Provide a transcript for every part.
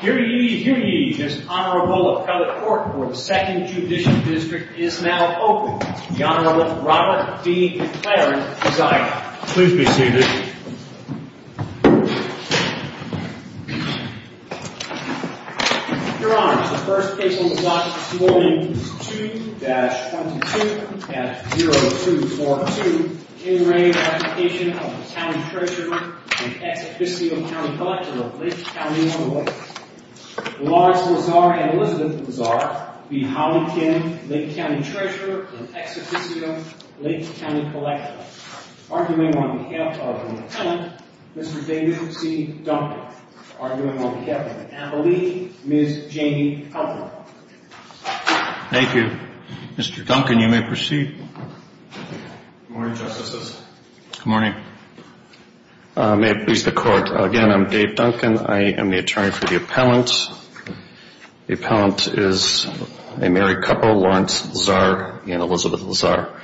Hear ye, hear ye, this Honorable Appellate Court for the Second Judicial District is now open. The Honorable Robert B. McLaren is I. Please be seated. Your Honor, the first case on the block this morning is 2-22-0242, in the name of the application of the County Treasurer and Ex Officio County Collector of Lake County, Illinois, the Lords of the Czar and Elizabeth of the Czar, B. Holly Kim, Lake County Treasurer and Ex Officio Lake County Collector, arguing on behalf of the Lieutenant, Mr. David C. Duncan, arguing on behalf of the Appellee, Ms. Jamie Elmore. Thank you. Mr. Duncan, you may proceed. Good morning, Justices. Good morning. May it please the Court, again, I'm Dave Duncan. I am the attorney for the appellant. The appellant is a married couple, Lawrence Czar and Elizabeth Czar.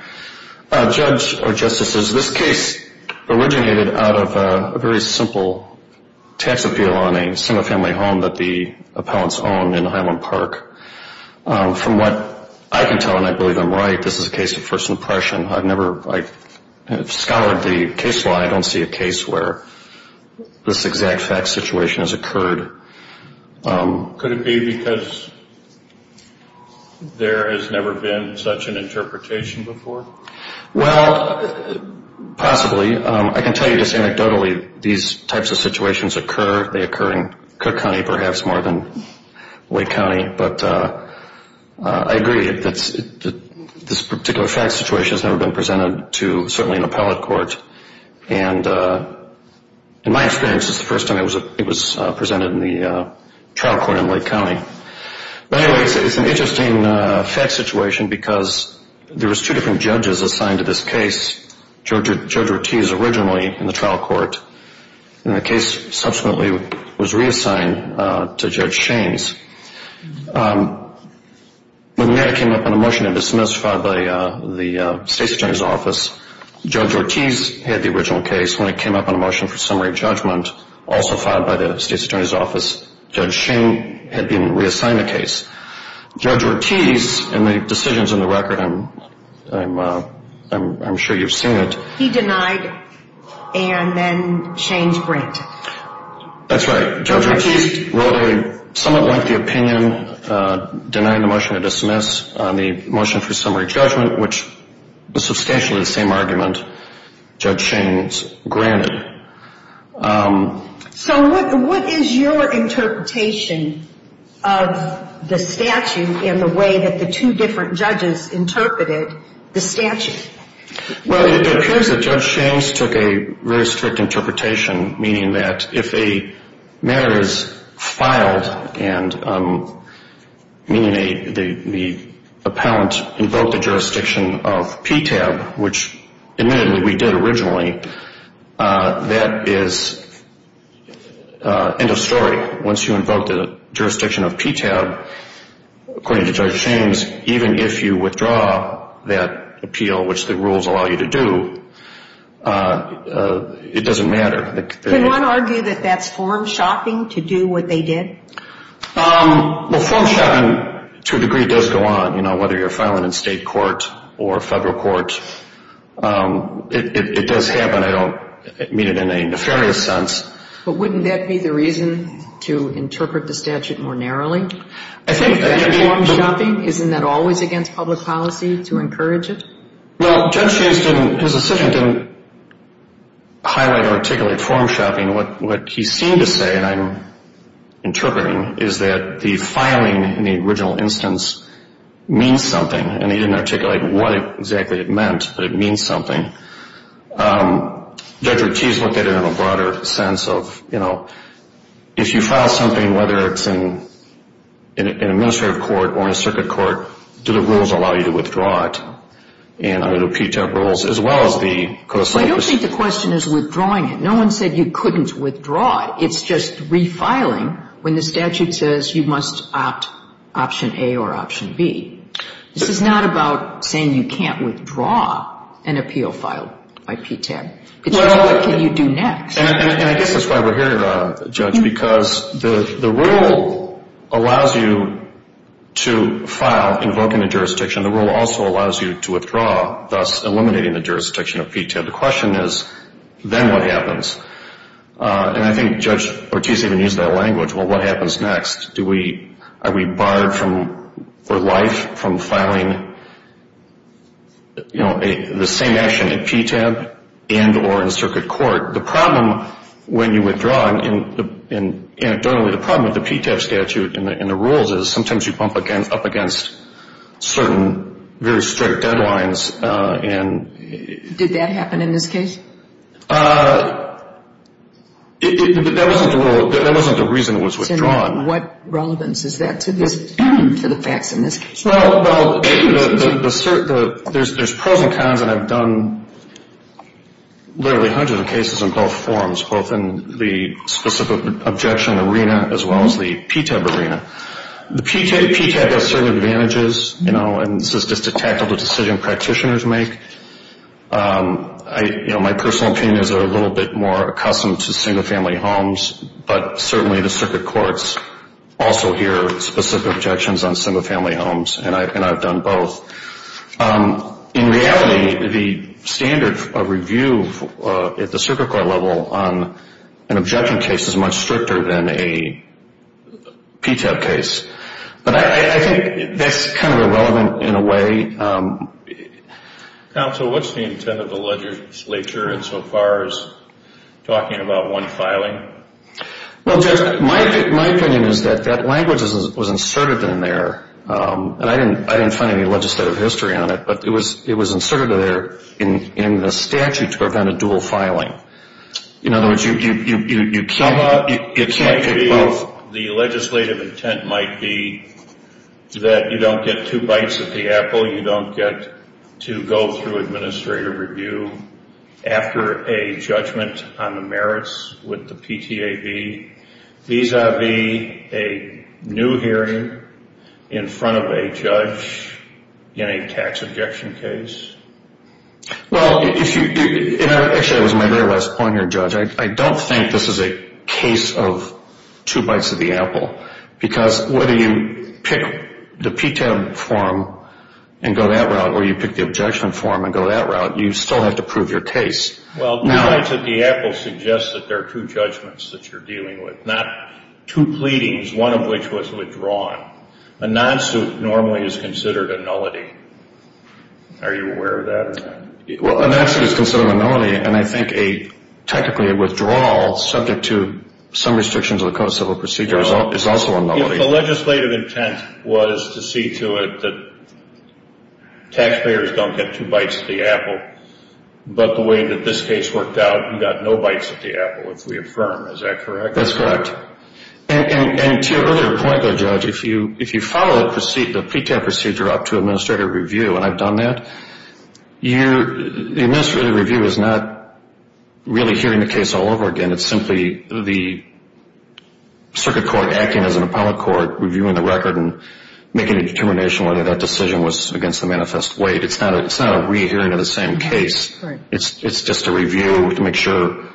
Judge or Justices, this case originated out of a very simple tax appeal on a single-family home that the appellants own in Highland Park. From what I can tell, and I believe I'm right, this is a case of first impression. I've never, like, scoured the case law. I don't see a case where this exact fact situation has occurred. Could it be because there has never been such an interpretation before? Well, possibly. I can tell you just anecdotally, these types of situations occur. They occur in Cook County perhaps more than Lake County. But I agree that this particular fact situation has never been presented to, certainly, an appellate court. And in my experience, it's the first time it was presented in the trial court in Lake County. But anyway, it's an interesting fact situation because there was two different judges assigned to this case. Judge Ortiz originally in the trial court. And the case subsequently was reassigned to Judge Shaines. When the matter came up on a motion to dismiss, filed by the State's Attorney's Office, Judge Ortiz had the original case. When it came up on a motion for summary judgment, also filed by the State's Attorney's Office, Judge Shaines had been reassigned the case. Judge Ortiz, in the decisions in the record, I'm sure you've seen it. He denied and then Shaines granted. That's right. Judge Ortiz wrote a somewhat lengthy opinion denying the motion to dismiss on the motion for summary judgment, which was substantially the same argument Judge Shaines granted. So what is your interpretation of the statute in the way that the two different judges interpreted the statute? Well, it appears that Judge Shaines took a very strict interpretation, meaning that if a matter is filed, meaning the appellant invoked the jurisdiction of PTAB, which admittedly we did originally, that is end of story. Once you invoke the jurisdiction of PTAB, according to Judge Shaines, even if you withdraw that appeal, which the rules allow you to do, it doesn't matter. Can one argue that that's form shopping to do what they did? Well, form shopping to a degree does go on. You know, whether you're filing in state court or federal court, it does happen. I don't mean it in a nefarious sense. But wouldn't that be the reason to interpret the statute more narrowly? I think that form shopping, isn't that always against public policy to encourage it? Well, Judge Shaines didn't, his decision didn't highlight or articulate form shopping. What he seemed to say, and I'm interpreting, is that the filing in the original instance means something, and he didn't articulate what exactly it meant, but it means something. Judge Ortiz looked at it in a broader sense of, you know, if you file something, whether it's in an administrative court or in a circuit court, do the rules allow you to withdraw it? And are there PTAB rules as well as the code of state? I don't think the question is withdrawing it. No one said you couldn't withdraw it. It's just refiling when the statute says you must opt option A or option B. This is not about saying you can't withdraw an appeal filed by PTAB. It's what can you do next. And I guess that's why we're here, Judge, because the rule allows you to file, invoke in a jurisdiction. The rule also allows you to withdraw, thus eliminating the jurisdiction of PTAB. The question is, then what happens? And I think Judge Ortiz even used that language. Well, what happens next? Are we barred for life from filing, you know, the same action at PTAB and or in circuit court? The problem when you withdraw, and anecdotally the problem with the PTAB statute and the rules is sometimes you bump up against certain very strict deadlines. Did that happen in this case? That wasn't the reason it was withdrawn. What relevance is that to the facts in this case? Well, there's pros and cons, and I've done literally hundreds of cases in both forms, both in the specific objection arena as well as the PTAB arena. The PTAB has certain advantages, you know, and it's just a tactical decision practitioners make. You know, my personal opinion is they're a little bit more accustomed to single-family homes, but certainly the circuit courts also hear specific objections on single-family homes, and I've done both. In reality, the standard of review at the circuit court level on an objection case is much stricter than a PTAB case. But I think that's kind of irrelevant in a way. Counsel, what's the intent of the legislature insofar as talking about one filing? Well, Jeff, my opinion is that that language was inserted in there, and I didn't find any legislative history on it, but it was inserted there in the statute to prevent a dual filing. In other words, you can't take both. The legislative intent might be that you don't get two bites at the apple, you don't get to go through administrative review after a judgment on the merits with the PTAB, vis-a-vis a new hearing in front of a judge in a tax objection case. Well, actually that was my very last point here, Judge. I don't think this is a case of two bites at the apple, because whether you pick the PTAB form and go that route or you pick the objection form and go that route, you still have to prove your case. Well, two bites at the apple suggests that there are two judgments that you're dealing with, not two pleadings, one of which was withdrawn. A non-suit normally is considered a nullity. Are you aware of that? Well, a non-suit is considered a nullity, and I think technically a withdrawal subject to some restrictions of the Code of Civil Procedure is also a nullity. If the legislative intent was to see to it that taxpayers don't get two bites at the apple, but the way that this case worked out, you got no bites at the apple, if we affirm. Is that correct? That's correct. And to your earlier point, though, Judge, if you follow the PTAB procedure up to administrative review, and I've done that, the administrative review is not really hearing the case all over again. It's simply the circuit court acting as an appellate court reviewing the record and making a determination whether that decision was against the manifest weight. It's not a rehearing of the same case. It's just a review to make sure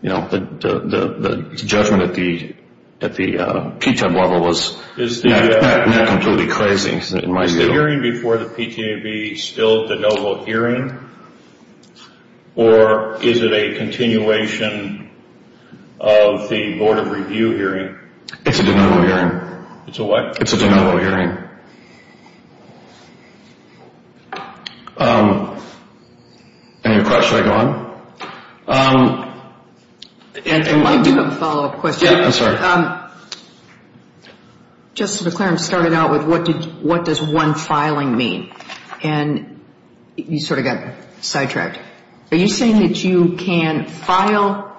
the judgment at the PTAB level was not completely crazy in my view. Is the hearing before the PTAB still de novo hearing, or is it a continuation of the Board of Review hearing? It's a de novo hearing. It's a what? It's a de novo hearing. Any other questions? Should I go on? I might do a follow-up question. Yeah, I'm sorry. Justice McClaren started out with what does one filing mean, and you sort of got sidetracked. Are you saying that you can file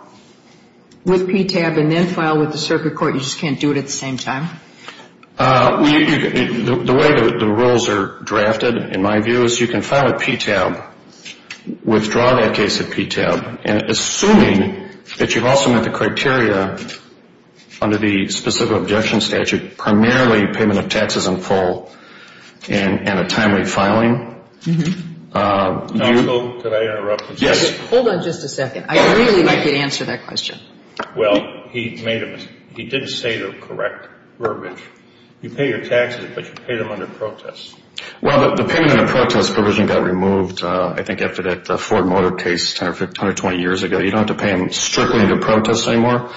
with PTAB and then file with the circuit court, you just can't do it at the same time? The way the rules are drafted, in my view, is you can file with PTAB, withdraw that case at PTAB, and assuming that you've also met the criteria under the specific objection statute, primarily payment of taxes in full and a timely filing. Could I interrupt? Yes. Hold on just a second. I really could answer that question. Well, he made a mistake. He didn't say the correct verbiage. You pay your taxes, but you pay them under protest. Well, the payment under protest provision got removed, I think, after that Ford Motor case 10 or 20 years ago. You don't have to pay them strictly under protest anymore.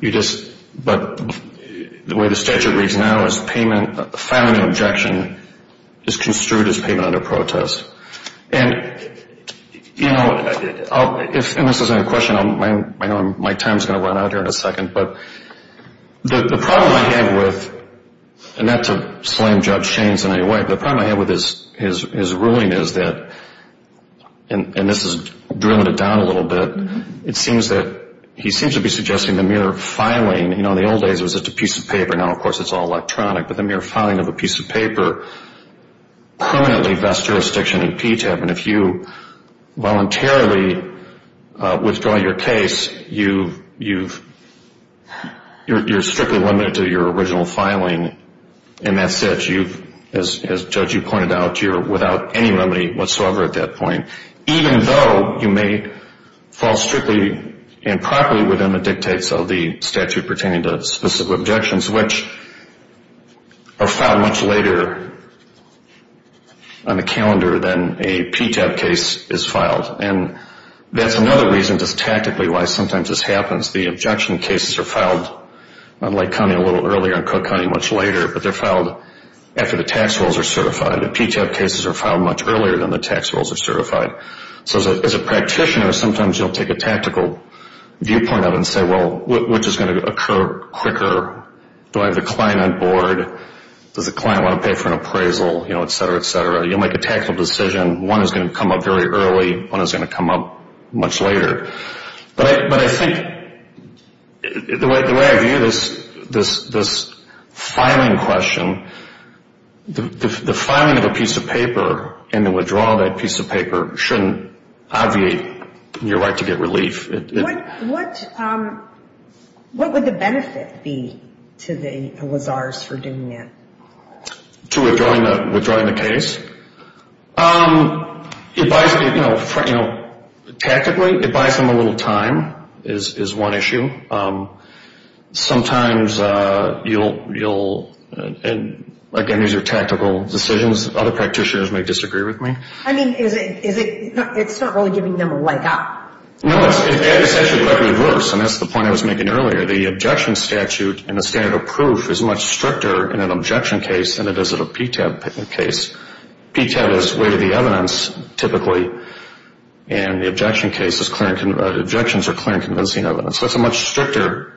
You just – but the way the statute reads now is payment, filing an objection is construed as payment under protest. And, you know, if this isn't a question, I know my time is going to run out here in a second, but the problem I have with, and not to slam Judge Shaines in any way, but the problem I have with his ruling is that, and this is drilling it down a little bit, it seems that he seems to be suggesting the mere filing, you know, in the old days it was just a piece of paper, now, of course, it's all electronic, but the mere filing of a piece of paper permanently vests jurisdiction in PTAB. And if you voluntarily withdraw your case, you're strictly limited to your original filing, and that's it. As Judge, you pointed out, you're without any remedy whatsoever at that point, even though you may fall strictly and properly within the dictates of the statute pertaining to specific objections, which are filed much later on the calendar than a PTAB case is filed. And that's another reason, just tactically, why sometimes this happens. The objection cases are filed, I'd like to comment a little earlier on Cook County much later, but they're filed after the tax rolls are certified. The PTAB cases are filed much earlier than the tax rolls are certified. So as a practitioner, sometimes you'll take a tactical viewpoint of it and say, well, which is going to occur quicker? Do I have the client on board? Does the client want to pay for an appraisal? You know, et cetera, et cetera. You'll make a tactical decision. One is going to come up very early, one is going to come up much later. But I think the way I view this filing question, the filing of a piece of paper and the withdrawal of that piece of paper shouldn't obviate your right to get relief. What would the benefit be to the lizards for doing that? To withdrawing the case? You know, tactically, it buys them a little time is one issue. Sometimes you'll, again, these are tactical decisions. Other practitioners may disagree with me. I mean, it's not really giving them a leg up. No, it's actually quite reverse, and that's the point I was making earlier. The objection statute and the standard of proof is much stricter in an objection case than it is in a PTAB case. PTAB is way to the evidence, typically, and the objection case is clear. Objections are clear and convincing evidence. That's a much stricter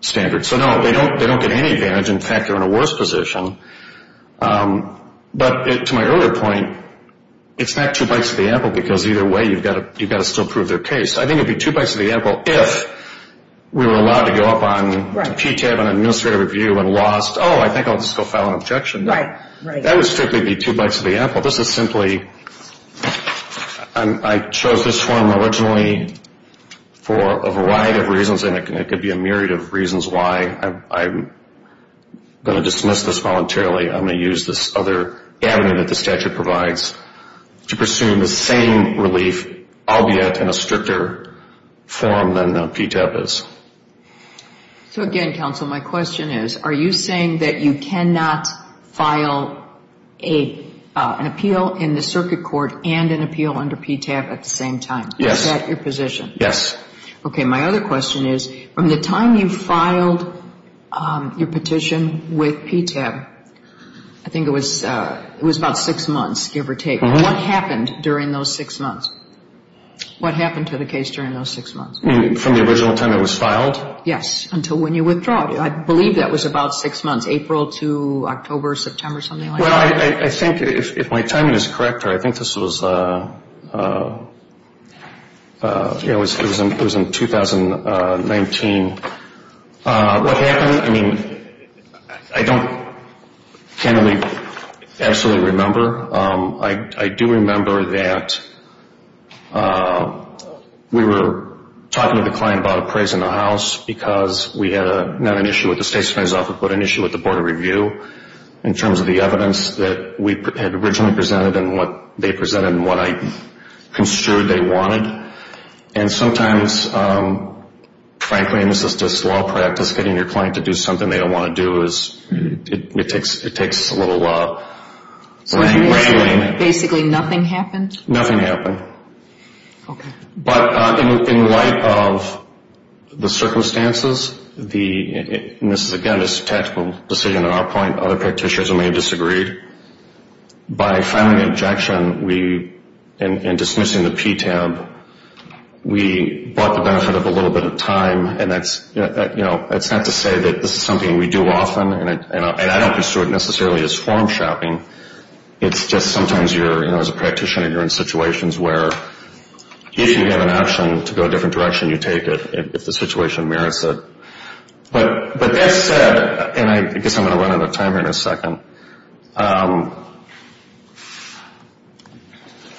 standard. So, no, they don't get any advantage. In fact, they're in a worse position. But to my earlier point, it's not two bites of the apple because either way you've got to still prove their case. I think it would be two bites of the apple if we were allowed to go up on PTAB on administrative review and lost, oh, I think I'll just go file an objection. That would strictly be two bites of the apple. This is simply, I chose this one originally for a variety of reasons, and it could be a myriad of reasons why I'm going to dismiss this voluntarily. I'm going to use this other avenue that the statute provides to pursue the same relief, albeit in a stricter form than PTAB is. So, again, counsel, my question is, are you saying that you cannot file an appeal in the circuit court and an appeal under PTAB at the same time? Yes. Is that your position? Yes. Okay. My other question is, from the time you filed your petition with PTAB, I think it was about six months, give or take. What happened during those six months? What happened to the case during those six months? From the original time it was filed? Yes. Until when you withdrew it. I believe that was about six months, April to October, September, something like that. Well, I think if my timing is correct, I think this was, you know, it was in 2019. What happened, I mean, I don't generally absolutely remember. I do remember that we were talking to the client about appraisal in the house because we had not an issue with the state's appraisal office, but an issue with the Board of Review in terms of the evidence that we had originally presented and what they presented and what I construed they wanted. And sometimes, frankly, and this is just law practice, getting your client to do something they don't want to do, it takes a little whaling. So basically nothing happened? Nothing happened. Okay. But in light of the circumstances, and this is, again, a tactical decision on our point, other practitioners may have disagreed. By filing an objection and dismissing the PTAB, we brought the benefit of a little bit of time, and that's not to say that this is something we do often, and I don't pursue it necessarily as form shopping. It's just sometimes you're, you know, as a practitioner, you're in situations where if you have an option to go a different direction, you take it if the situation merits it. But that said, and I guess I'm going to run out of time here in a second, but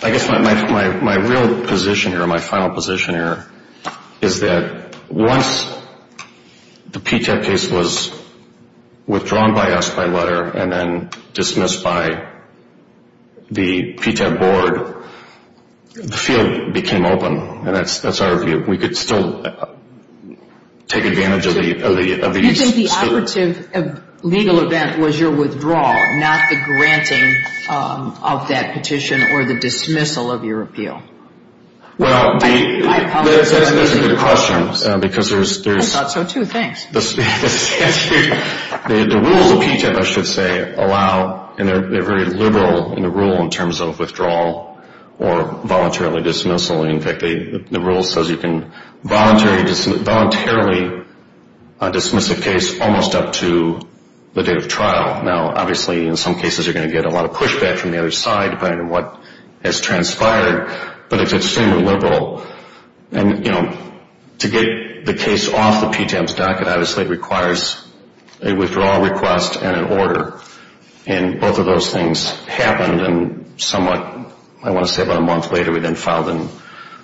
I guess my real position here, my final position here, is that once the PTAB case was withdrawn by us by letter and then dismissed by the PTAB board, the field became open. And that's our view. We could still take advantage of these. If the operative legal event was your withdrawal, not the granting of that petition or the dismissal of your appeal. Well, that's a good question because there's... I thought so, too. Thanks. The rules of PTAB, I should say, allow, and they're very liberal in the rule in terms of withdrawal or voluntarily dismissal. In fact, the rule says you can voluntarily dismiss a case almost up to the date of trial. Now, obviously, in some cases you're going to get a lot of pushback from the other side depending on what has transpired. But it's extremely liberal. And, you know, to get the case off the PTAB's dock, it obviously requires a withdrawal request and an order. And both of those things happened and somewhat, I want to say about a month later, we then filed in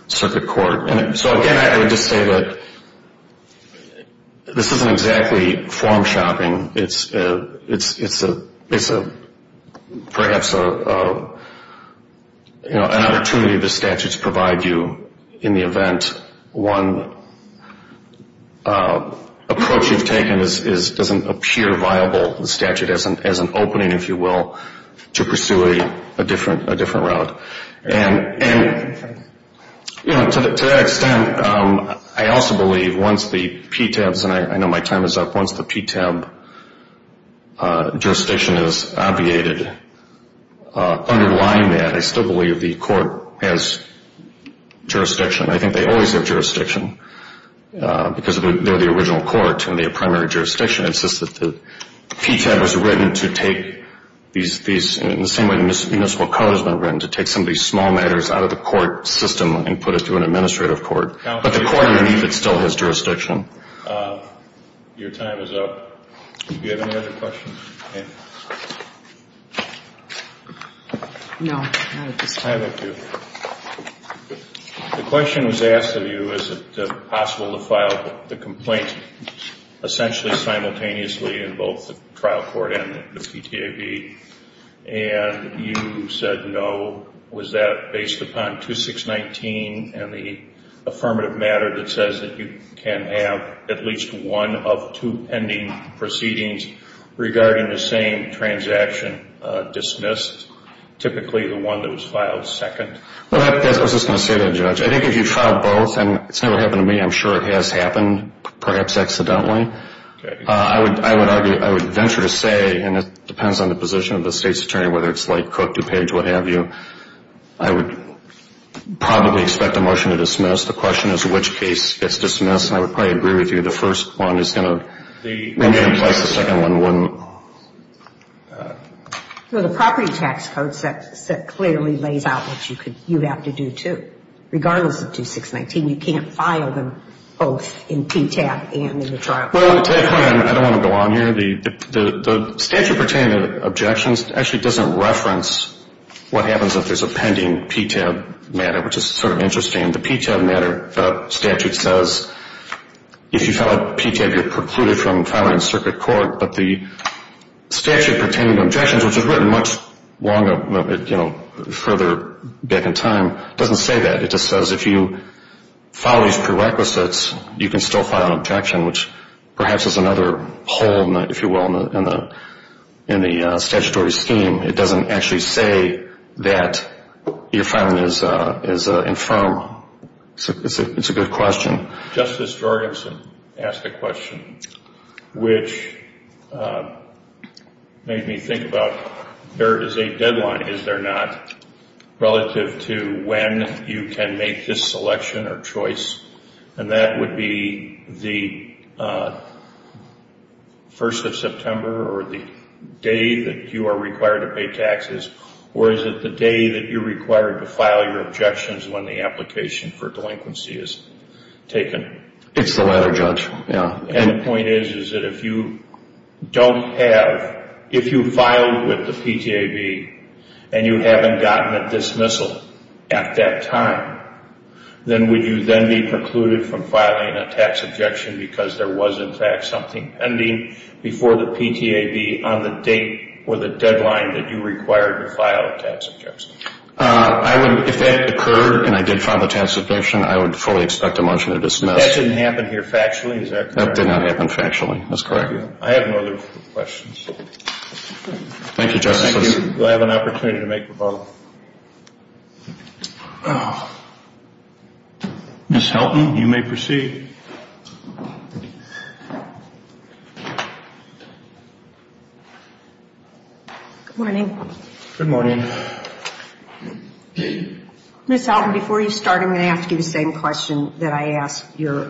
circuit court. And so, again, I would just say that this isn't exactly form shopping. It's perhaps an opportunity the statutes provide you in the event one approach you've taken doesn't appear viable, the statute, as an opening, if you will, to pursue a different route. And, you know, to that extent, I also believe once the PTAB's, and I know my time is up, once the PTAB jurisdiction is obviated, underlying that, I still believe the court has jurisdiction. I think they always have jurisdiction because they're the original court and they have primary jurisdiction. It's just that the PTAB was written to take these, in the same way the municipal code has been written, to take some of these small matters out of the court system and put it through an administrative court. But the court underneath it still has jurisdiction. Your time is up. Do you have any other questions? No. I have a few. The question was asked of you, is it possible to file the complaint essentially simultaneously in both the trial court and the PTAB, and you said no. Was that based upon 2619 and the affirmative matter that says that you can have at least one of two pending proceedings regarding the same transaction dismissed, versus typically the one that was filed second? I was just going to say that, Judge. I think if you trial both, and it's never happened to me, I'm sure it has happened, perhaps accidentally, I would venture to say, and it depends on the position of the state's attorney, whether it's like Cook, DuPage, what have you, I would probably expect a motion to dismiss. The question is which case gets dismissed, and I would probably agree with you, the first one is going to remain in place, the second one wouldn't. Well, the property tax code set clearly lays out what you have to do, too. Regardless of 2619, you can't file them both in PTAB and in the trial court. Well, to that point, I don't want to go on here. The statute pertaining to objections actually doesn't reference what happens if there's a pending PTAB matter, which is sort of interesting. The PTAB matter statute says if you file a PTAB, you're precluded from filing in circuit court, but the statute pertaining to objections, which was written much further back in time, doesn't say that. It just says if you file these prerequisites, you can still file an objection, which perhaps is another hole, if you will, in the statutory scheme. It doesn't actually say that your filing is infirm. It's a good question. Justice Jorgenson asked a question which made me think about there is a deadline, is there not, relative to when you can make this selection or choice, and that would be the 1st of September or the day that you are required to pay taxes, or is it the day that you're required to file your objections when the application for delinquency is taken? It's the latter, Judge. And the point is that if you don't have, if you filed with the PTAB and you haven't gotten a dismissal at that time, then would you then be precluded from filing a tax objection because there was, in fact, something pending before the PTAB on the date or the deadline that you required to file a tax objection? If that occurred and I did file a tax objection, I would fully expect a motion to dismiss. That didn't happen here factually, is that correct? That did not happen factually, that's correct. I have no other questions. Thank you, Justice. Thank you. Do I have an opportunity to make a proposal? Ms. Helton, you may proceed. Good morning. Good morning. Ms. Helton, before you start, I'm going to ask you the same question that I asked your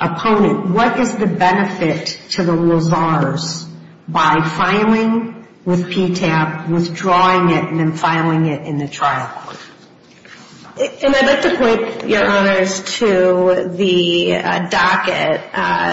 opponent. What is the benefit to the liaisons by filing with PTAB, withdrawing it, and then filing it in the trial? And I'd like to point, Your Honors, to the docket,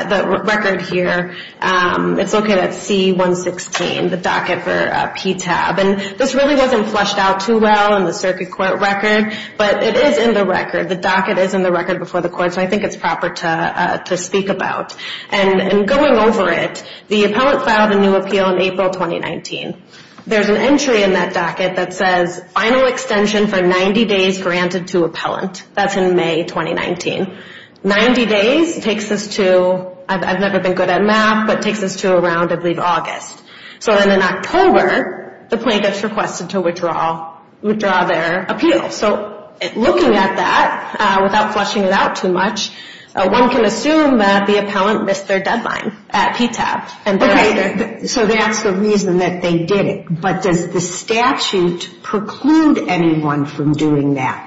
the record here. It's located at C-116, the docket for PTAB. And this really wasn't fleshed out too well in the circuit court record, but it is in the record. The docket is in the record before the court, so I think it's proper to speak about. And going over it, the appellant filed a new appeal in April 2019. There's an entry in that docket that says, final extension for 90 days granted to appellant. That's in May 2019. Ninety days takes us to, I've never been good at math, but takes us to around, I believe, August. So then in October, the plaintiff's requested to withdraw their appeal. So looking at that, without fleshing it out too much, one can assume that the appellant missed their deadline at PTAB. So that's the reason that they did it. But does the statute preclude anyone from doing that?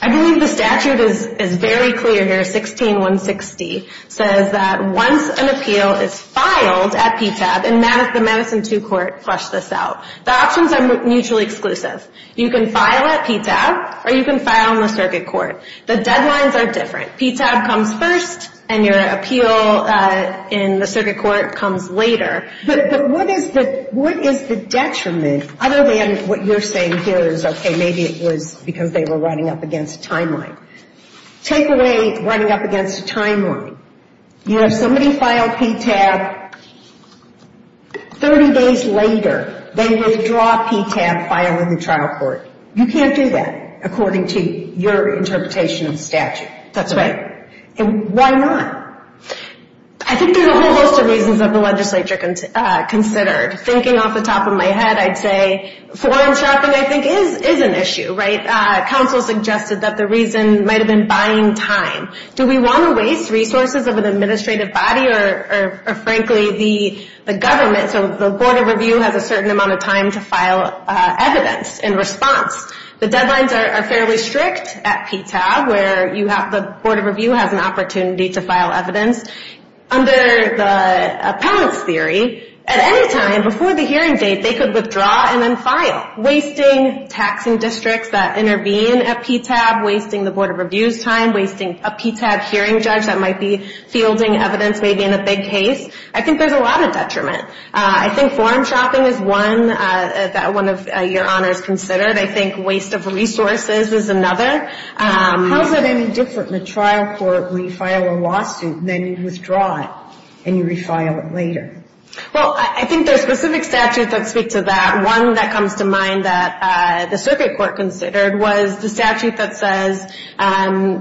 I believe the statute is very clear here, 16-160. It says that once an appeal is filed at PTAB, and the Madison 2 Court fleshed this out, the options are mutually exclusive. You can file at PTAB, or you can file in the circuit court. The deadlines are different. PTAB comes first, and your appeal in the circuit court comes later. But what is the detriment, other than what you're saying here is, okay, maybe it was because they were running up against a timeline. Take away running up against a timeline. You know, if somebody filed PTAB 30 days later, they withdraw PTAB filing the trial court. You can't do that according to your interpretation of the statute. That's right. And why not? I think there's a whole host of reasons that the legislature considered. Thinking off the top of my head, I'd say foreign shopping, I think, is an issue, right? Counsel suggested that the reason might have been buying time. Do we want to waste resources of an administrative body or, frankly, the government? So the Board of Review has a certain amount of time to file evidence in response. The deadlines are fairly strict at PTAB, where the Board of Review has an opportunity to file evidence. Under the appellant's theory, at any time before the hearing date, they could withdraw and then file. Wasting taxing districts that intervene at PTAB, wasting the Board of Review's time, wasting a PTAB hearing judge that might be fielding evidence maybe in a big case, I think there's a lot of detriment. I think foreign shopping is one that one of your honors considered. I think waste of resources is another. How is that any different in a trial court where you file a lawsuit and then you withdraw it and you refile it later? Well, I think there's specific statutes that speak to that. One that comes to mind that the circuit court considered was the statute that says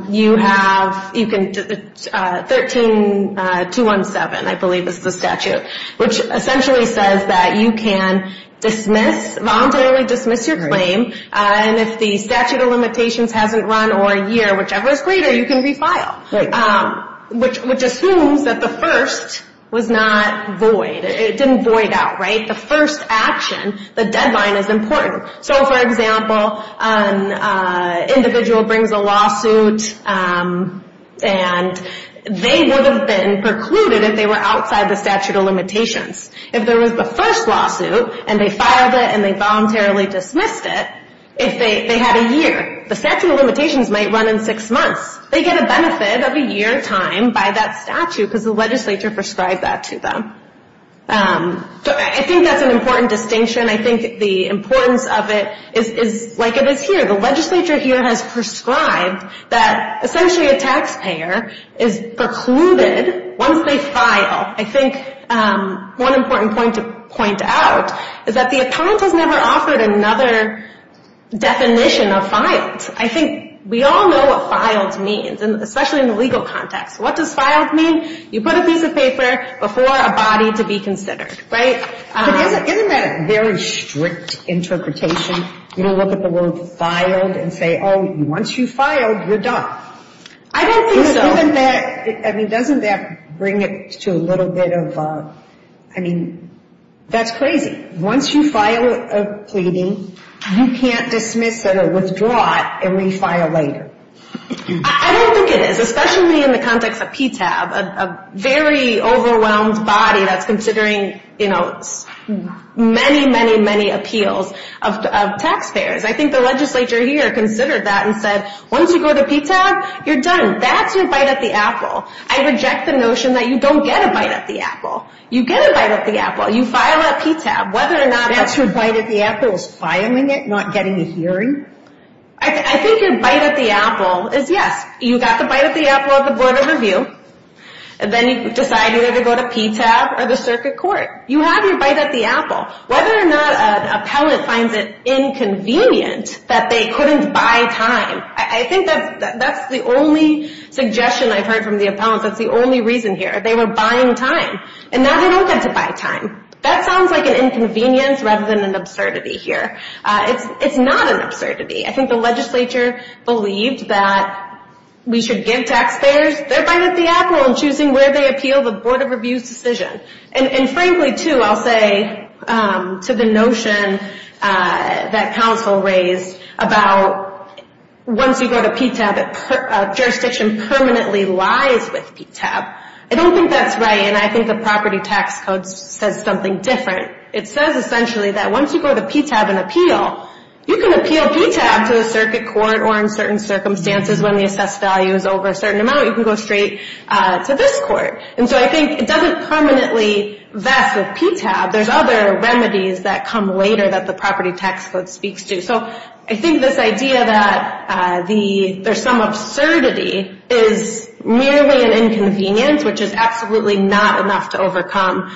you have 13217, I believe is the statute, which essentially says that you can dismiss, voluntarily dismiss your claim, and if the statute of limitations hasn't run or a year, whichever is greater, you can refile, which assumes that the first was not void. It didn't void out, right? The first action, the deadline is important. So, for example, an individual brings a lawsuit and they would have been precluded if they were outside the statute of limitations. If there was the first lawsuit and they filed it and they voluntarily dismissed it, if they had a year, the statute of limitations might run in six months. They get a benefit of a year time by that statute because the legislature prescribed that to them. I think that's an important distinction. I think the importance of it is like it is here. The legislature here has prescribed that essentially a taxpayer is precluded once they file. I think one important point to point out is that the appellant has never offered another definition of filed. I think we all know what filed means, especially in the legal context. What does filed mean? You put a piece of paper before a body to be considered, right? Isn't that a very strict interpretation? You don't look at the word filed and say, oh, once you file, you're done. I don't think so. I mean, doesn't that bring it to a little bit of, I mean, that's crazy. Once you file a pleading, you can't dismiss it or withdraw it and refile later. I don't think it is, especially in the context of PTAB, a very overwhelmed body that's considering, you know, many, many, many appeals of taxpayers. I think the legislature here considered that and said, once you go to PTAB, you're done. That's your bite at the apple. I reject the notion that you don't get a bite at the apple. You get a bite at the apple. You file at PTAB. That's your bite at the apple is filing it, not getting a hearing? I think your bite at the apple is, yes, you got the bite at the apple at the board of review, and then you decided to go to PTAB or the circuit court. You have your bite at the apple. Whether or not an appellant finds it inconvenient that they couldn't buy time, I think that's the only suggestion I've heard from the appellants. That's the only reason here. They were buying time, and now they don't get to buy time. That sounds like an inconvenience rather than an absurdity here. It's not an absurdity. I think the legislature believed that we should give taxpayers their bite at the apple in choosing where they appeal the board of review's decision. And, frankly, too, I'll say to the notion that counsel raised about once you go to PTAB, jurisdiction permanently lies with PTAB. I don't think that's right, and I think the property tax code says something different. It says, essentially, that once you go to PTAB and appeal, you can appeal PTAB to the circuit court or, in certain circumstances, when the assessed value is over a certain amount, you can go straight to this court. And so I think it doesn't permanently vest with PTAB. There's other remedies that come later that the property tax code speaks to. So I think this idea that there's some absurdity is merely an inconvenience, which is absolutely not enough to overcome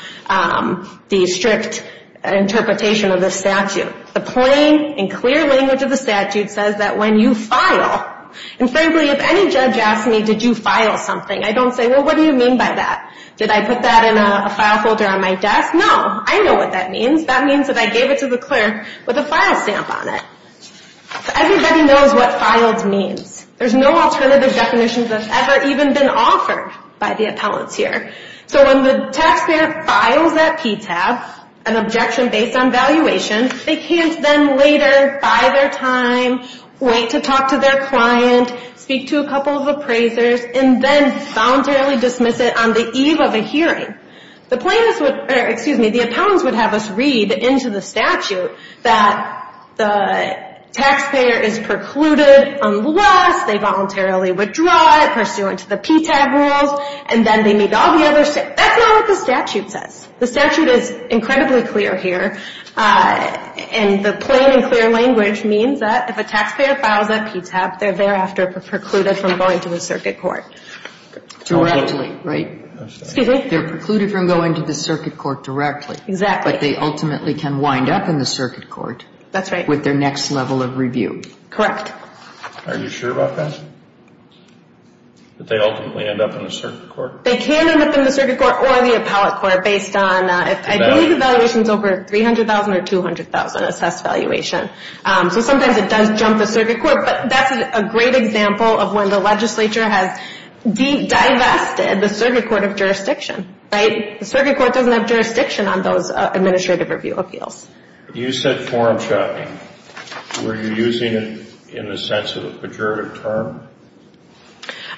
the strict interpretation of the statute. The plain and clear language of the statute says that when you file, and, frankly, if any judge asks me, did you file something, I don't say, well, what do you mean by that? Did I put that in a file folder on my desk? No. I know what that means. That means that I gave it to the clerk with a file stamp on it. Everybody knows what filed means. There's no alternative definition that's ever even been offered by the appellants here. So when the taxpayer files at PTAB an objection based on valuation, they can't then later, by their time, wait to talk to their client, speak to a couple of appraisers, and then voluntarily dismiss it on the eve of a hearing. The plaintiffs would, or excuse me, the appellants would have us read into the statute that the taxpayer is precluded unless they voluntarily withdraw it pursuant to the PTAB rules, and then they meet all the other, that's not what the statute says. The statute is incredibly clear here, and the plain and clear language means that if a taxpayer files at PTAB, they're thereafter precluded from going to a circuit court. Directly, right? Excuse me? They're precluded from going to the circuit court directly. Exactly. But they ultimately can wind up in the circuit court. That's right. With their next level of review. Correct. Are you sure about that? That they ultimately end up in the circuit court? They can end up in the circuit court or the appellate court based on, I believe the valuation is over $300,000 or $200,000, assessed valuation. So sometimes it does jump the circuit court, but that's a great example of when the legislature has de-divested the circuit court of jurisdiction, right? The circuit court doesn't have jurisdiction on those administrative review appeals. You said forum shopping. Were you using it in the sense of a pejorative term?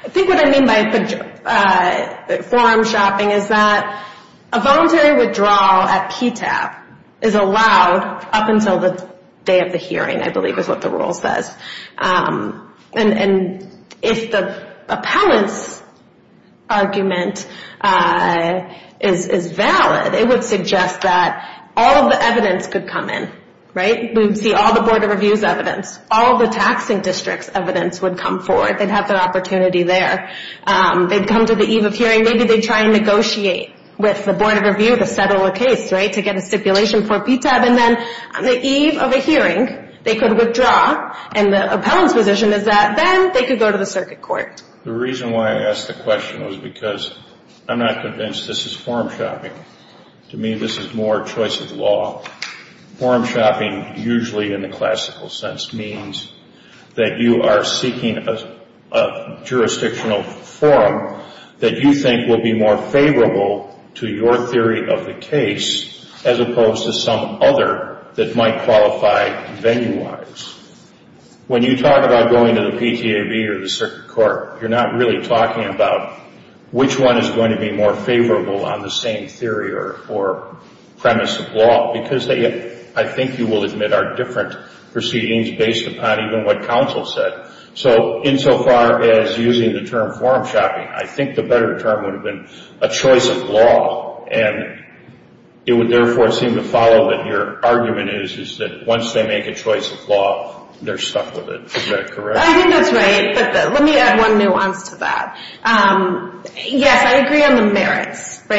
I think what I mean by forum shopping is that a voluntary withdrawal at PTAB is allowed up until the day of the hearing, I believe is what the rule says. And if the appellate's argument is valid, it would suggest that all of the evidence could come in, right? We'd see all the Board of Review's evidence, all the taxing district's evidence would come forward. They'd have the opportunity there. They'd come to the eve of hearing. Maybe they'd try and negotiate with the Board of Review to settle a case, right, to get a stipulation for PTAB. And then on the eve of a hearing, they could withdraw. And the appellant's position is that then they could go to the circuit court. The reason why I asked the question was because I'm not convinced this is forum shopping. To me, this is more choice of law. Forum shopping usually, in the classical sense, means that you are seeking a jurisdictional forum that you think will be more favorable to your theory of the case as opposed to some other that might qualify venue-wise. When you talk about going to the PTAB or the circuit court, you're not really talking about which one is going to be more favorable on the same theory or premise of law because they, I think you will admit, are different proceedings based upon even what counsel said. So insofar as using the term forum shopping, I think the better term would have been a choice of law. And it would therefore seem to follow that your argument is that once they make a choice of law, they're stuck with it. Is that correct? I think that's right. But let me add one nuance to that. Yes, I agree on the merits. The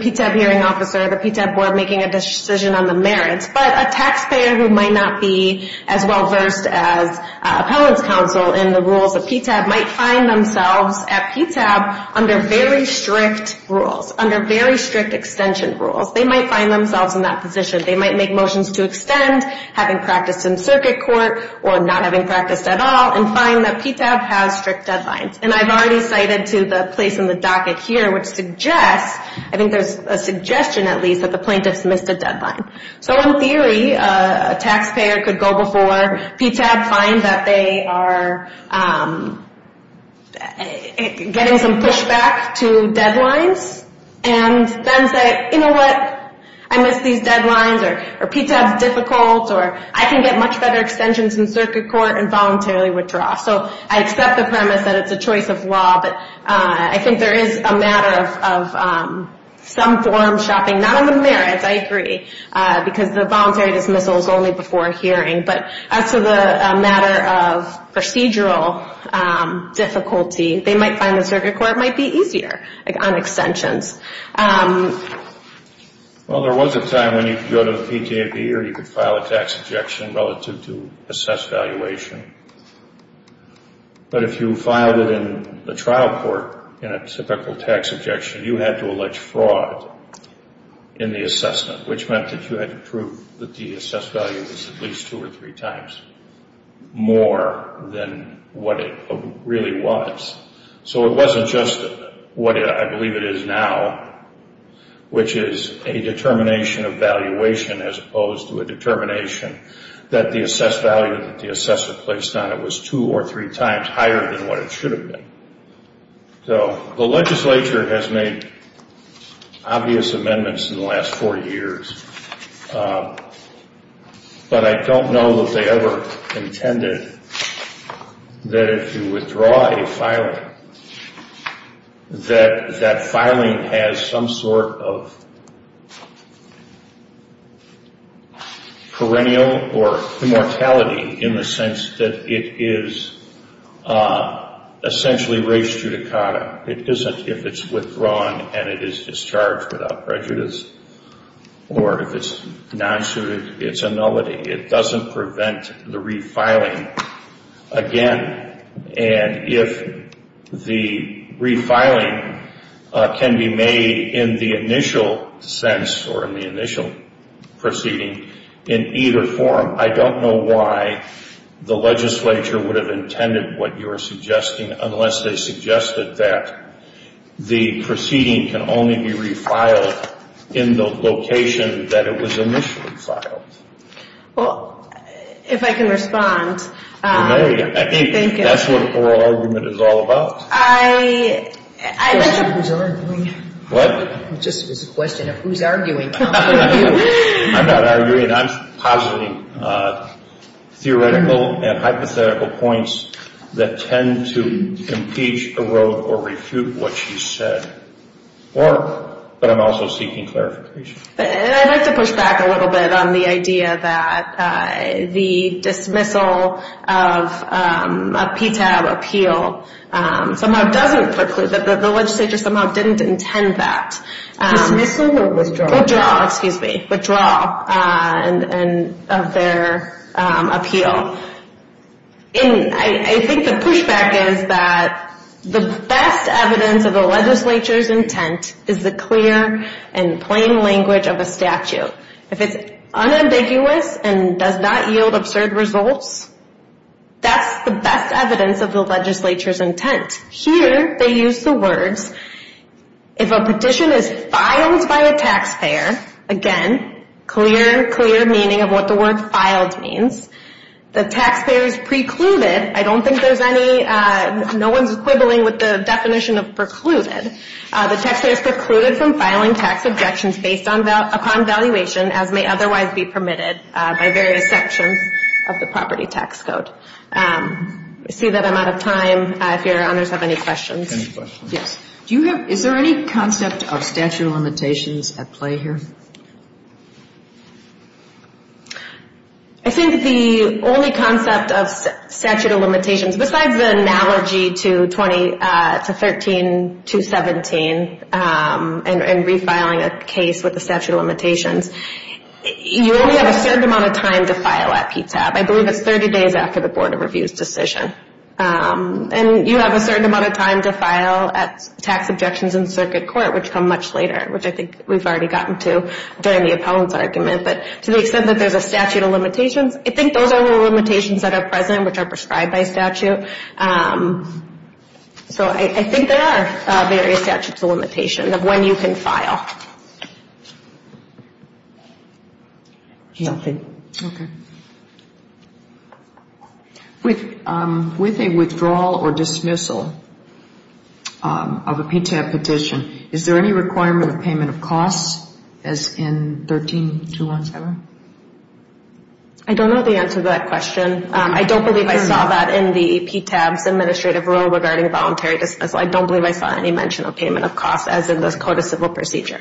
PTAB hearing officer or the PTAB board making a decision on the merits. But a taxpayer who might not be as well versed as appellants counsel in the rules of PTAB might find themselves at PTAB under very strict rules, under very strict extension rules. They might find themselves in that position. They might make motions to extend, having practiced in circuit court or not having practiced at all, and find that PTAB has strict deadlines. And I've already cited to the place in the docket here, which suggests, I think there's a suggestion at least, that the plaintiffs missed a deadline. So in theory, a taxpayer could go before PTAB, find that they are getting some pushback to deadlines, and then say, you know what, I missed these deadlines, or PTAB's difficult, or I can get much better extensions in circuit court and voluntarily withdraw. So I accept the premise that it's a choice of law, but I think there is a matter of some form shopping, not on the merits, I agree, because the voluntary dismissal is only before a hearing. But as to the matter of procedural difficulty, they might find that circuit court might be easier on extensions. Well, there was a time when you could go to the PTAB or you could file a tax objection relative to assessed valuation. But if you filed it in the trial court in a typical tax objection, you had to allege fraud in the assessment, which meant that you had to prove that the assessed value was at least two or three times more than what it really was. So it wasn't just what I believe it is now, which is a determination of valuation as opposed to a determination that the assessed value that the assessor placed on it was two or three times higher than what it should have been. So the legislature has made obvious amendments in the last four years, but I don't know that they ever intended that if you withdraw a filing, that that filing has some sort of perennial or immortality in the sense that it is essentially res judicata. It isn't if it's withdrawn and it is discharged without prejudice or if it's non-suited, it's a nullity. It doesn't prevent the refiling again. And if the refiling can be made in the initial sense or in the initial proceeding in either form, I don't know why the legislature would have intended what you are suggesting unless they suggested that the proceeding can only be refiled in the location that it was initially filed. Well, if I can respond. You may. I think that's what oral argument is all about. What? It just was a question of who's arguing. I'm not arguing. I'm positing theoretical and hypothetical points that tend to impeach, erode, or refute what you said. But I'm also seeking clarification. I'd like to push back a little bit on the idea that the dismissal of a PTAB appeal somehow doesn't preclude, that the legislature somehow didn't intend that. Dismissal or withdraw? Withdraw, excuse me. Withdraw of their appeal. I think the pushback is that the best evidence of the legislature's intent is the clear and plain language of a statute. If it's unambiguous and does not yield absurd results, that's the best evidence of the legislature's intent. Here they use the words, if a petition is filed by a taxpayer, again, clear, clear meaning of what the word filed means. The taxpayer is precluded. I don't think there's any, no one's quibbling with the definition of precluded. The taxpayer is precluded from filing tax objections based upon valuation as may otherwise be permitted by various sections of the property tax code. I see that I'm out of time. If your honors have any questions. Any questions? Yes. Do you have, is there any concept of statute of limitations at play here? I think the only concept of statute of limitations, besides the analogy to 13217 and refiling a case with the statute of limitations, you only have a certain amount of time to file that PTAB. I believe it's 30 days after the Board of Review's decision. And you have a certain amount of time to file tax objections in circuit court, which come much later, which I think we've already gotten to during the appellant's argument. But to the extent that there's a statute of limitations, I think those are the limitations that are present, which are prescribed by statute. So I think there are various statutes of limitations of when you can file. Nothing. Okay. With a withdrawal or dismissal of a PTAB petition, is there any requirement of payment of costs as in 13217? I don't know the answer to that question. I don't believe I saw that in the PTAB's administrative rule regarding voluntary dismissal. I don't believe I saw any mention of payment of costs as in the Code of Civil Procedures.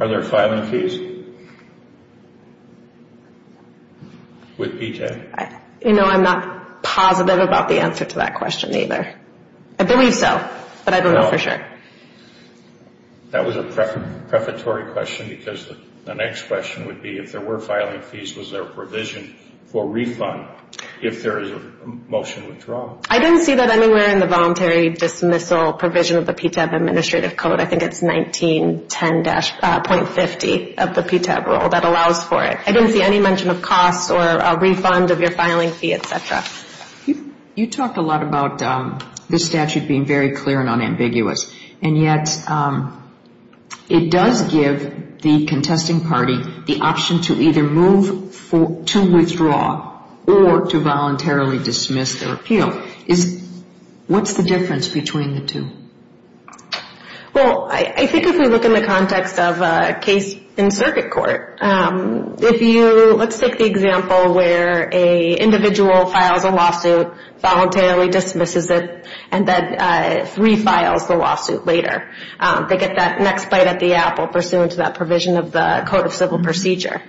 Are there filing fees with PTAB? You know, I'm not positive about the answer to that question either. I believe so, but I don't know for sure. That was a prefatory question because the next question would be if there were filing fees, was there a provision for refund if there is a motion withdrawal? I didn't see that anywhere in the voluntary dismissal provision of the PTAB administrative code. I think it's 1910.50 of the PTAB rule that allows for it. I didn't see any mention of costs or refund of your filing fee, et cetera. You talked a lot about the statute being very clear and unambiguous, and yet it does give the contesting party the option to either move to withdraw or to voluntarily dismiss their appeal. What's the difference between the two? Well, I think if we look in the context of a case in circuit court, let's take the example where an individual files a lawsuit, voluntarily dismisses it, and then refiles the lawsuit later. They get that next bite at the apple pursuant to that provision of the Code of Civil Procedure.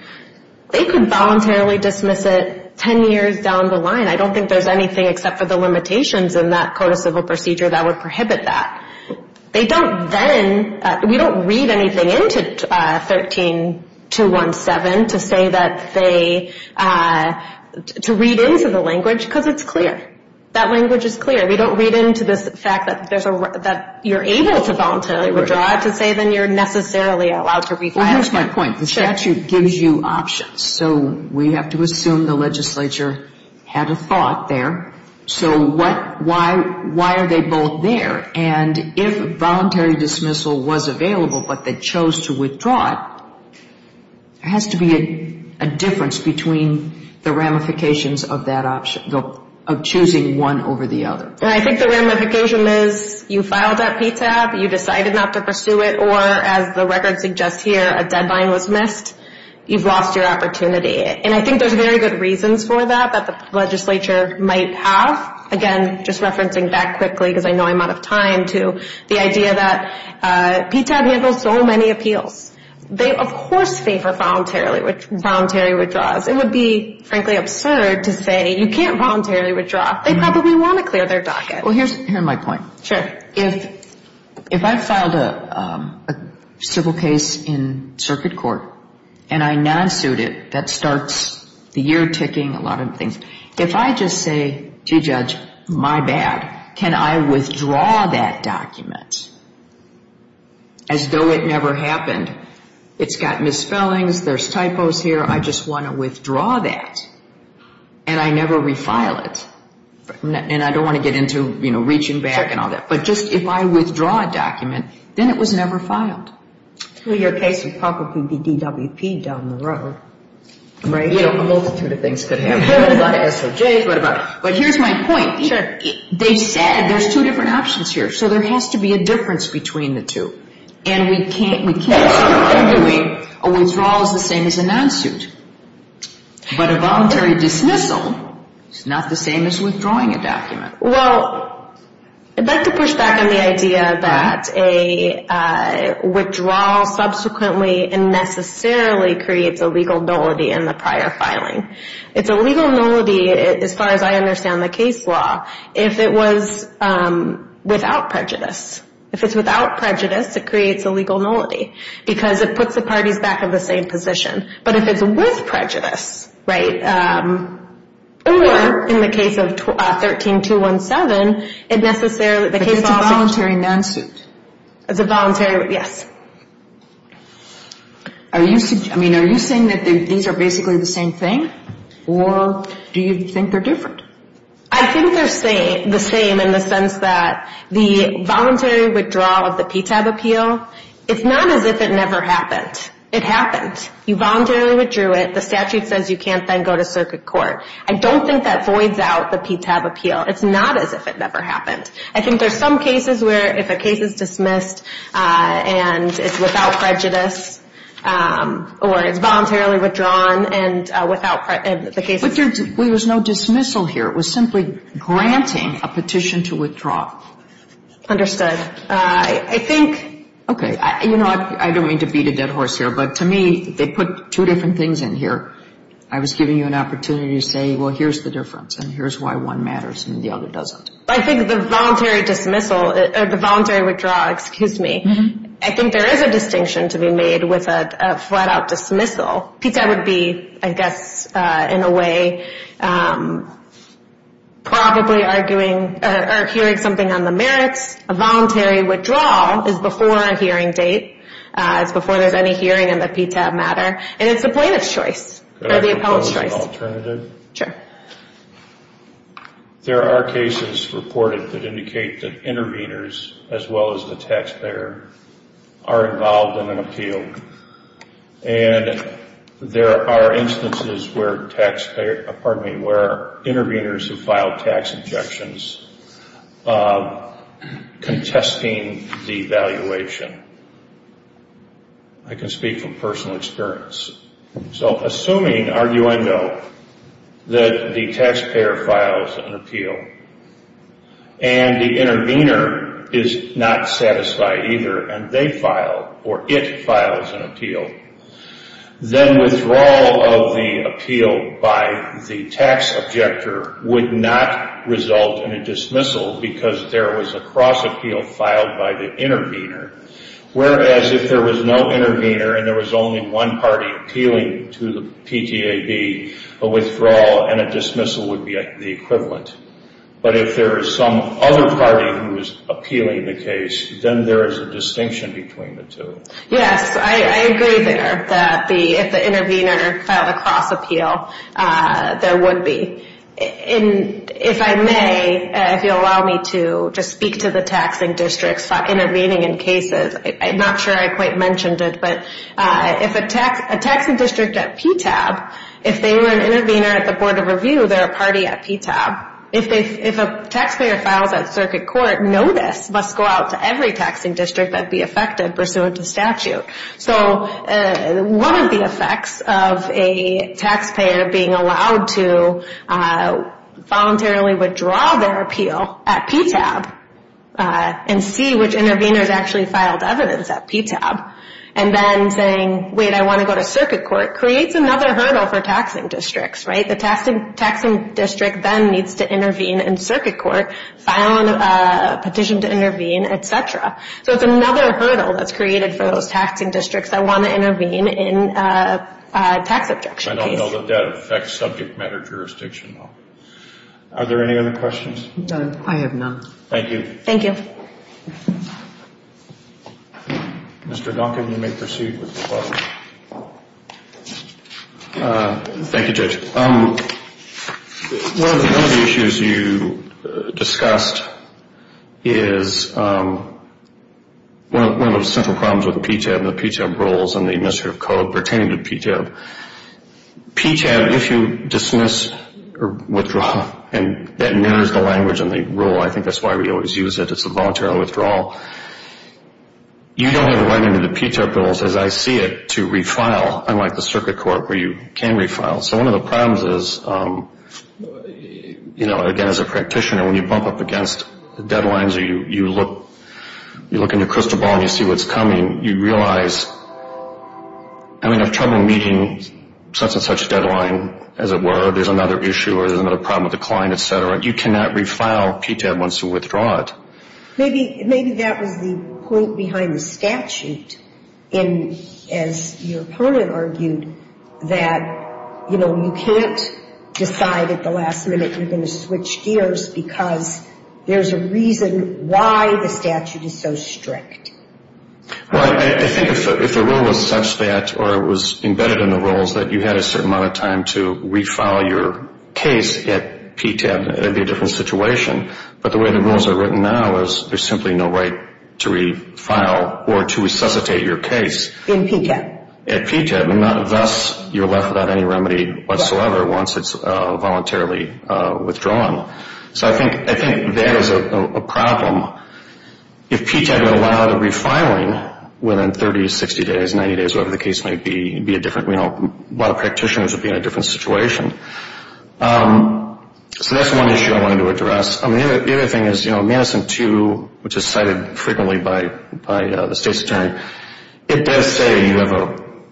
They could voluntarily dismiss it 10 years down the line. I don't think there's anything except for the limitations in that Code of Civil Procedure that would prohibit that. They don't then, we don't read anything into 13217 to say that they, to read into the language because it's clear. That language is clear. We don't read into this fact that you're able to voluntarily withdraw to say then you're necessarily allowed to refile. Well, here's my point. The statute gives you options. So we have to assume the legislature had a thought there. So why are they both there? And if voluntary dismissal was available but they chose to withdraw it, there has to be a difference between the ramifications of that option, of choosing one over the other. I think the ramification is you filed that PTAB, you decided not to pursue it, or as the record suggests here, a deadline was missed, you've lost your opportunity. And I think there's very good reasons for that that the legislature might have. Again, just referencing back quickly because I know I'm out of time to the idea that PTAB handles so many appeals. They, of course, favor voluntarily withdraws. It would be, frankly, absurd to say you can't voluntarily withdraw. They probably want to clear their docket. Well, here's my point. Sure. If I filed a civil case in circuit court and I non-suit it, that starts the year ticking, a lot of things. If I just say, gee, Judge, my bad, can I withdraw that document as though it never happened, it's got misspellings, there's typos here, I just want to withdraw that and I never refile it, and I don't want to get into, you know, reaching back and all that. But just if I withdraw a document, then it was never filed. Well, your case would probably be DWP down the road. Right. You know, a multitude of things could happen. What about SOJ? What about? But here's my point. Sure. They said there's two different options here. So there has to be a difference between the two. And we can't say, arguably, a withdrawal is the same as a non-suit. But a voluntary dismissal is not the same as withdrawing a document. Well, I'd like to push back on the idea that a withdrawal subsequently and necessarily creates a legal nullity in the prior filing. It's a legal nullity, as far as I understand the case law, if it was without prejudice. If it's without prejudice, it creates a legal nullity because it puts the parties back in the same position. But if it's with prejudice, right, or in the case of 13217, it necessarily, the case law. But it's a voluntary non-suit. It's a voluntary, yes. I mean, are you saying that these are basically the same thing? Or do you think they're different? I think they're the same in the sense that the voluntary withdrawal of the PTAB appeal, it's not as if it never happened. It happened. You voluntarily withdrew it. The statute says you can't then go to circuit court. I don't think that voids out the PTAB appeal. It's not as if it never happened. I think there's some cases where if a case is dismissed and it's without prejudice or it's voluntarily withdrawn and without prejudice, the case is dismissed. But there was no dismissal here. It was simply granting a petition to withdraw. Understood. I think ‑‑ Okay, you know, I don't mean to beat a dead horse here, but to me they put two different things in here. I was giving you an opportunity to say, well, here's the difference and here's why one matters and the other doesn't. I think the voluntary dismissal, the voluntary withdrawal, excuse me, I think there is a distinction to be made with a flat‑out dismissal. PTAB would be, I guess, in a way probably arguing or hearing something on the merits. A voluntary withdrawal is before a hearing date. It's before there's any hearing in the PTAB matter, and it's the plaintiff's choice or the appellant's choice. Can I propose an alternative? Sure. There are cases reported that indicate that interveners as well as the taxpayer are involved in an appeal, and there are instances where interveners who file tax objections contesting the valuation. I can speak from personal experience. So assuming, argue I know, that the taxpayer files an appeal and the intervener is not satisfied either and they file or it files an appeal, then withdrawal of the appeal by the tax objector would not result in a dismissal because there was a cross appeal filed by the intervener. Whereas if there was no intervener and there was only one party appealing to the PTAB, a withdrawal and a dismissal would be the equivalent. But if there is some other party who is appealing the case, then there is a distinction between the two. Yes, I agree there that if the intervener filed a cross appeal, there would be. If I may, if you'll allow me to just speak to the taxing districts intervening in cases, I'm not sure I quite mentioned it, but if a taxing district at PTAB, if they were an intervener at the Board of Review, they're a party at PTAB. If a taxpayer files at circuit court, notice must go out to every taxing district that would be affected pursuant to statute. So one of the effects of a taxpayer being allowed to voluntarily withdraw their appeal at PTAB and see which intervener has actually filed evidence at PTAB and then saying, wait, I want to go to circuit court, creates another hurdle for taxing districts. The taxing district then needs to intervene in circuit court, file a petition to intervene, et cetera. So it's another hurdle that's created for those taxing districts that want to intervene in a tax abjection case. I don't know that that affects subject matter jurisdiction. Are there any other questions? No, I have none. Thank you. Thank you. Mr. Duncan, you may proceed with the question. Thank you, Judge. One of the issues you discussed is one of the central problems with the PTAB and the PTAB rules and the Administrative Code pertaining to PTAB. PTAB, if you dismiss or withdraw, and that narrows the language in the rule. I think that's why we always use it. It's a voluntary withdrawal. You don't have a right under the PTAB rules, as I see it, to refile, unlike the circuit court where you can refile. So one of the problems is, you know, again, as a practitioner, when you bump up against deadlines or you look in your crystal ball and you see what's coming, you realize, I mean, if trouble meeting such and such deadline, as it were, there's another issue or there's another problem with the client, et cetera, you cannot refile PTAB once you withdraw it. Maybe that was the point behind the statute in, as your opponent argued, that, you know, you can't decide at the last minute you're going to switch gears because there's a reason why the statute is so strict. Well, I think if the rule was such that or it was embedded in the rules that you had a certain amount of time to refile your case at PTAB, it would be a different situation. But the way the rules are written now is there's simply no right to refile or to resuscitate your case. In PTAB. At PTAB, and thus you're left without any remedy whatsoever once it's voluntarily withdrawn. So I think that is a problem. If PTAB would allow the refiling within 30 to 60 days, 90 days, whatever the case might be, it would be a different, you know, a lot of practitioners would be in a different situation. So that's one issue I wanted to address. The other thing is, you know, Madison 2, which is cited frequently by the state's attorney, it does say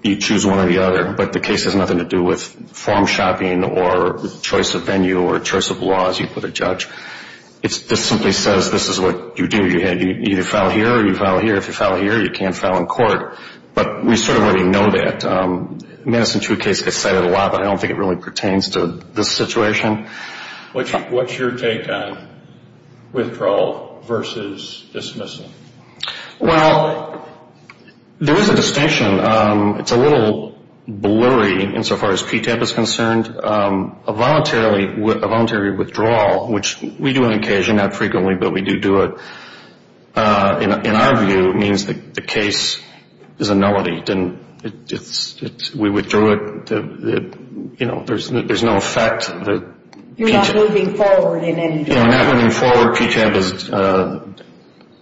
you choose one or the other, but the case has nothing to do with form shopping or choice of venue or choice of law, as you put a judge. This simply says this is what you do. You either file here or you file here. If you file here, you can't file in court. But we sort of already know that. Madison 2 case gets cited a lot, but I don't think it really pertains to this situation. What's your take on withdrawal versus dismissal? Well, there is a distinction. It's a little blurry insofar as PTAB is concerned. A voluntary withdrawal, which we do on occasion, not frequently, but we do do it, in our view means that the case is a nullity. We withdrew it. You know, there's no effect. You're not moving forward in any direction. You know, not moving forward, PTAB is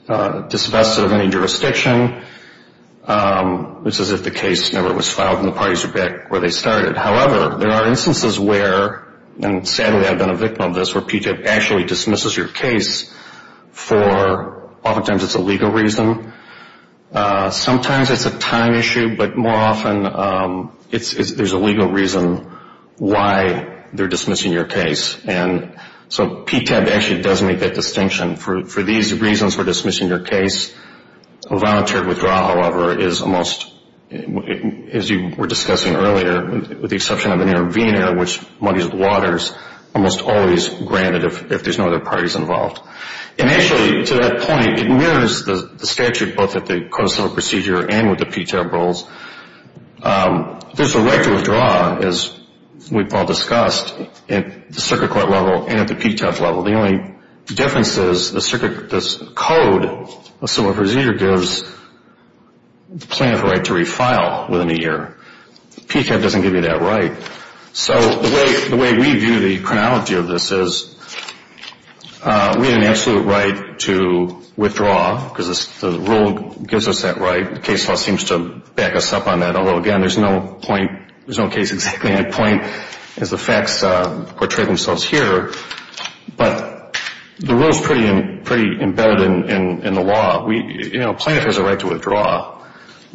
disinvested of any jurisdiction. This is if the case never was filed and the parties are back where they started. However, there are instances where, and sadly I've been a victim of this, where PTAB actually dismisses your case for oftentimes it's a legal reason. Sometimes it's a time issue, but more often there's a legal reason why they're dismissing your case. And so PTAB actually does make that distinction. For these reasons, we're dismissing your case. A voluntary withdrawal, however, is almost, as you were discussing earlier, with the exception of an intervenor, which monies the waters, almost always granted if there's no other parties involved. And actually, to that point, it mirrors the statute, both at the Code of Civil Procedure and with the PTAB rules. There's a right to withdraw, as we've all discussed. At the circuit court level and at the PTAB level, the only difference is the Code of Civil Procedure gives the plaintiff a right to refile within a year. PTAB doesn't give you that right. So the way we view the chronology of this is we have an absolute right to withdraw because the rule gives us that right. The case law seems to back us up on that. Again, there's no point, there's no case exactly. My point is the facts portray themselves here. But the rule is pretty embedded in the law. Plaintiff has a right to withdraw,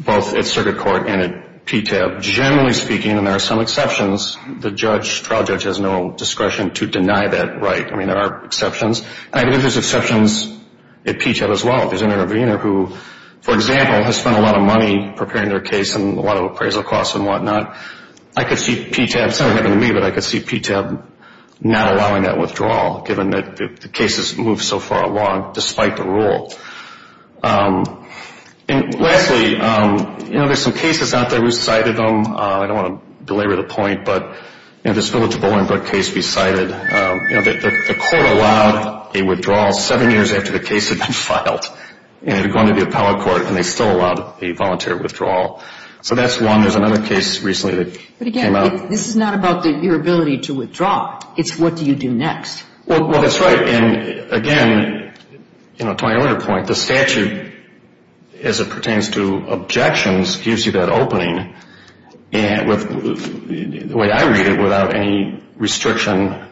both at circuit court and at PTAB. Generally speaking, and there are some exceptions, the trial judge has no discretion to deny that right. I mean, there are exceptions. I think there's exceptions at PTAB as well. There's an intervenor who, for example, has spent a lot of money preparing their case and a lot of appraisal costs and whatnot. I could see PTAB, it's not going to happen to me, but I could see PTAB not allowing that withdrawal given that the case has moved so far along despite the rule. Lastly, there's some cases out there, we cited them. I don't want to belabor the point, but this Village of Bolingbrook case we cited, and it had gone to the appellate court and they still allowed a voluntary withdrawal. So that's one. There's another case recently that came out. But, again, this is not about your ability to withdraw. It's what do you do next. Well, that's right. And, again, to my earlier point, the statute, as it pertains to objections, gives you that opening. The way I read it, without any restriction,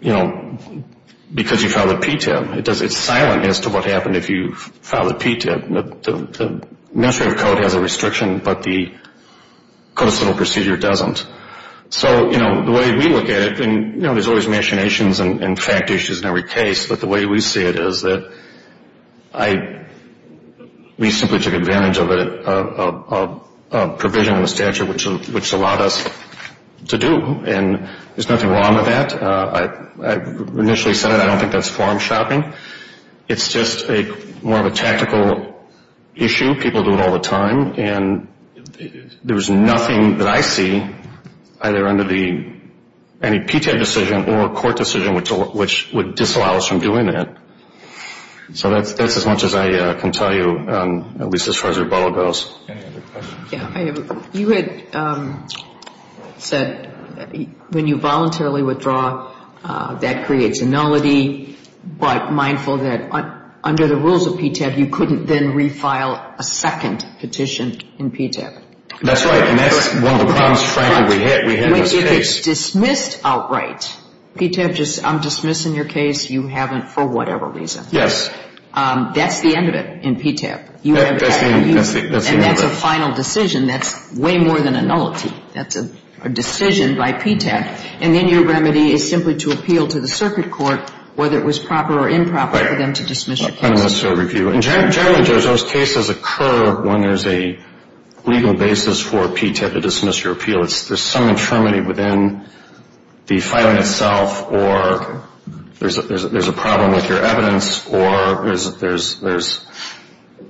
you know, because you filed at PTAB, it's silent as to what happened if you filed at PTAB. The administrative code has a restriction, but the codicidal procedure doesn't. So, you know, the way we look at it, and, you know, there's always machinations and fact issues in every case, but the way we see it is that we simply took advantage of a provision in the statute which allowed us to do. And there's nothing wrong with that. I initially said it. I don't think that's farm shopping. It's just more of a tactical issue. People do it all the time. And there was nothing that I see either under any PTAB decision or a court decision which would disallow us from doing that. So that's as much as I can tell you, at least as far as rebuttal goes. Any other questions? You had said when you voluntarily withdraw, that creates a nullity, but mindful that under the rules of PTAB, you couldn't then refile a second petition in PTAB. That's right. And that's one of the problems, frankly, we had in this case. If it's dismissed outright, PTAB, I'm dismissing your case, you haven't for whatever reason. Yes. That's the end of it in PTAB. That's the end of it. And that's a final decision. That's way more than a nullity. That's a decision by PTAB. And then your remedy is simply to appeal to the circuit court, whether it was proper or improper for them to dismiss your case. Right. Unnecessary review. And generally, Judge, those cases occur when there's a legal basis for PTAB to dismiss your appeal. There's some infirmity within the filing itself, or there's a problem with your evidence, or there's,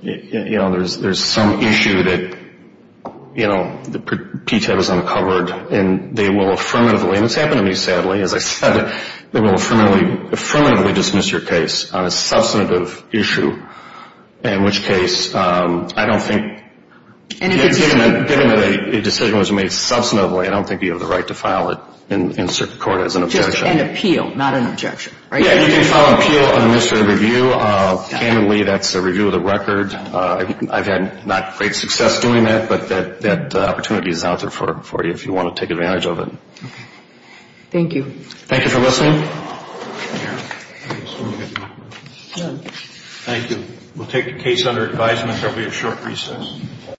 you know, there's some issue that, you know, PTAB has uncovered, and they will affirmatively, and it's happened to me, sadly, as I said, they will affirmatively dismiss your case on a substantive issue, in which case I don't think, given that a decision was made substantively, I don't think you have the right to file it in circuit court as an objection. Just an appeal, not an objection. Yeah, you can file an appeal on a misdemeanor review. Commonly, that's a review of the record. I've had not great success doing that, but that opportunity is out there for you if you want to take advantage of it. Thank you. Thank you for listening. Thank you. We'll take the case under advisement. There will be a short recess.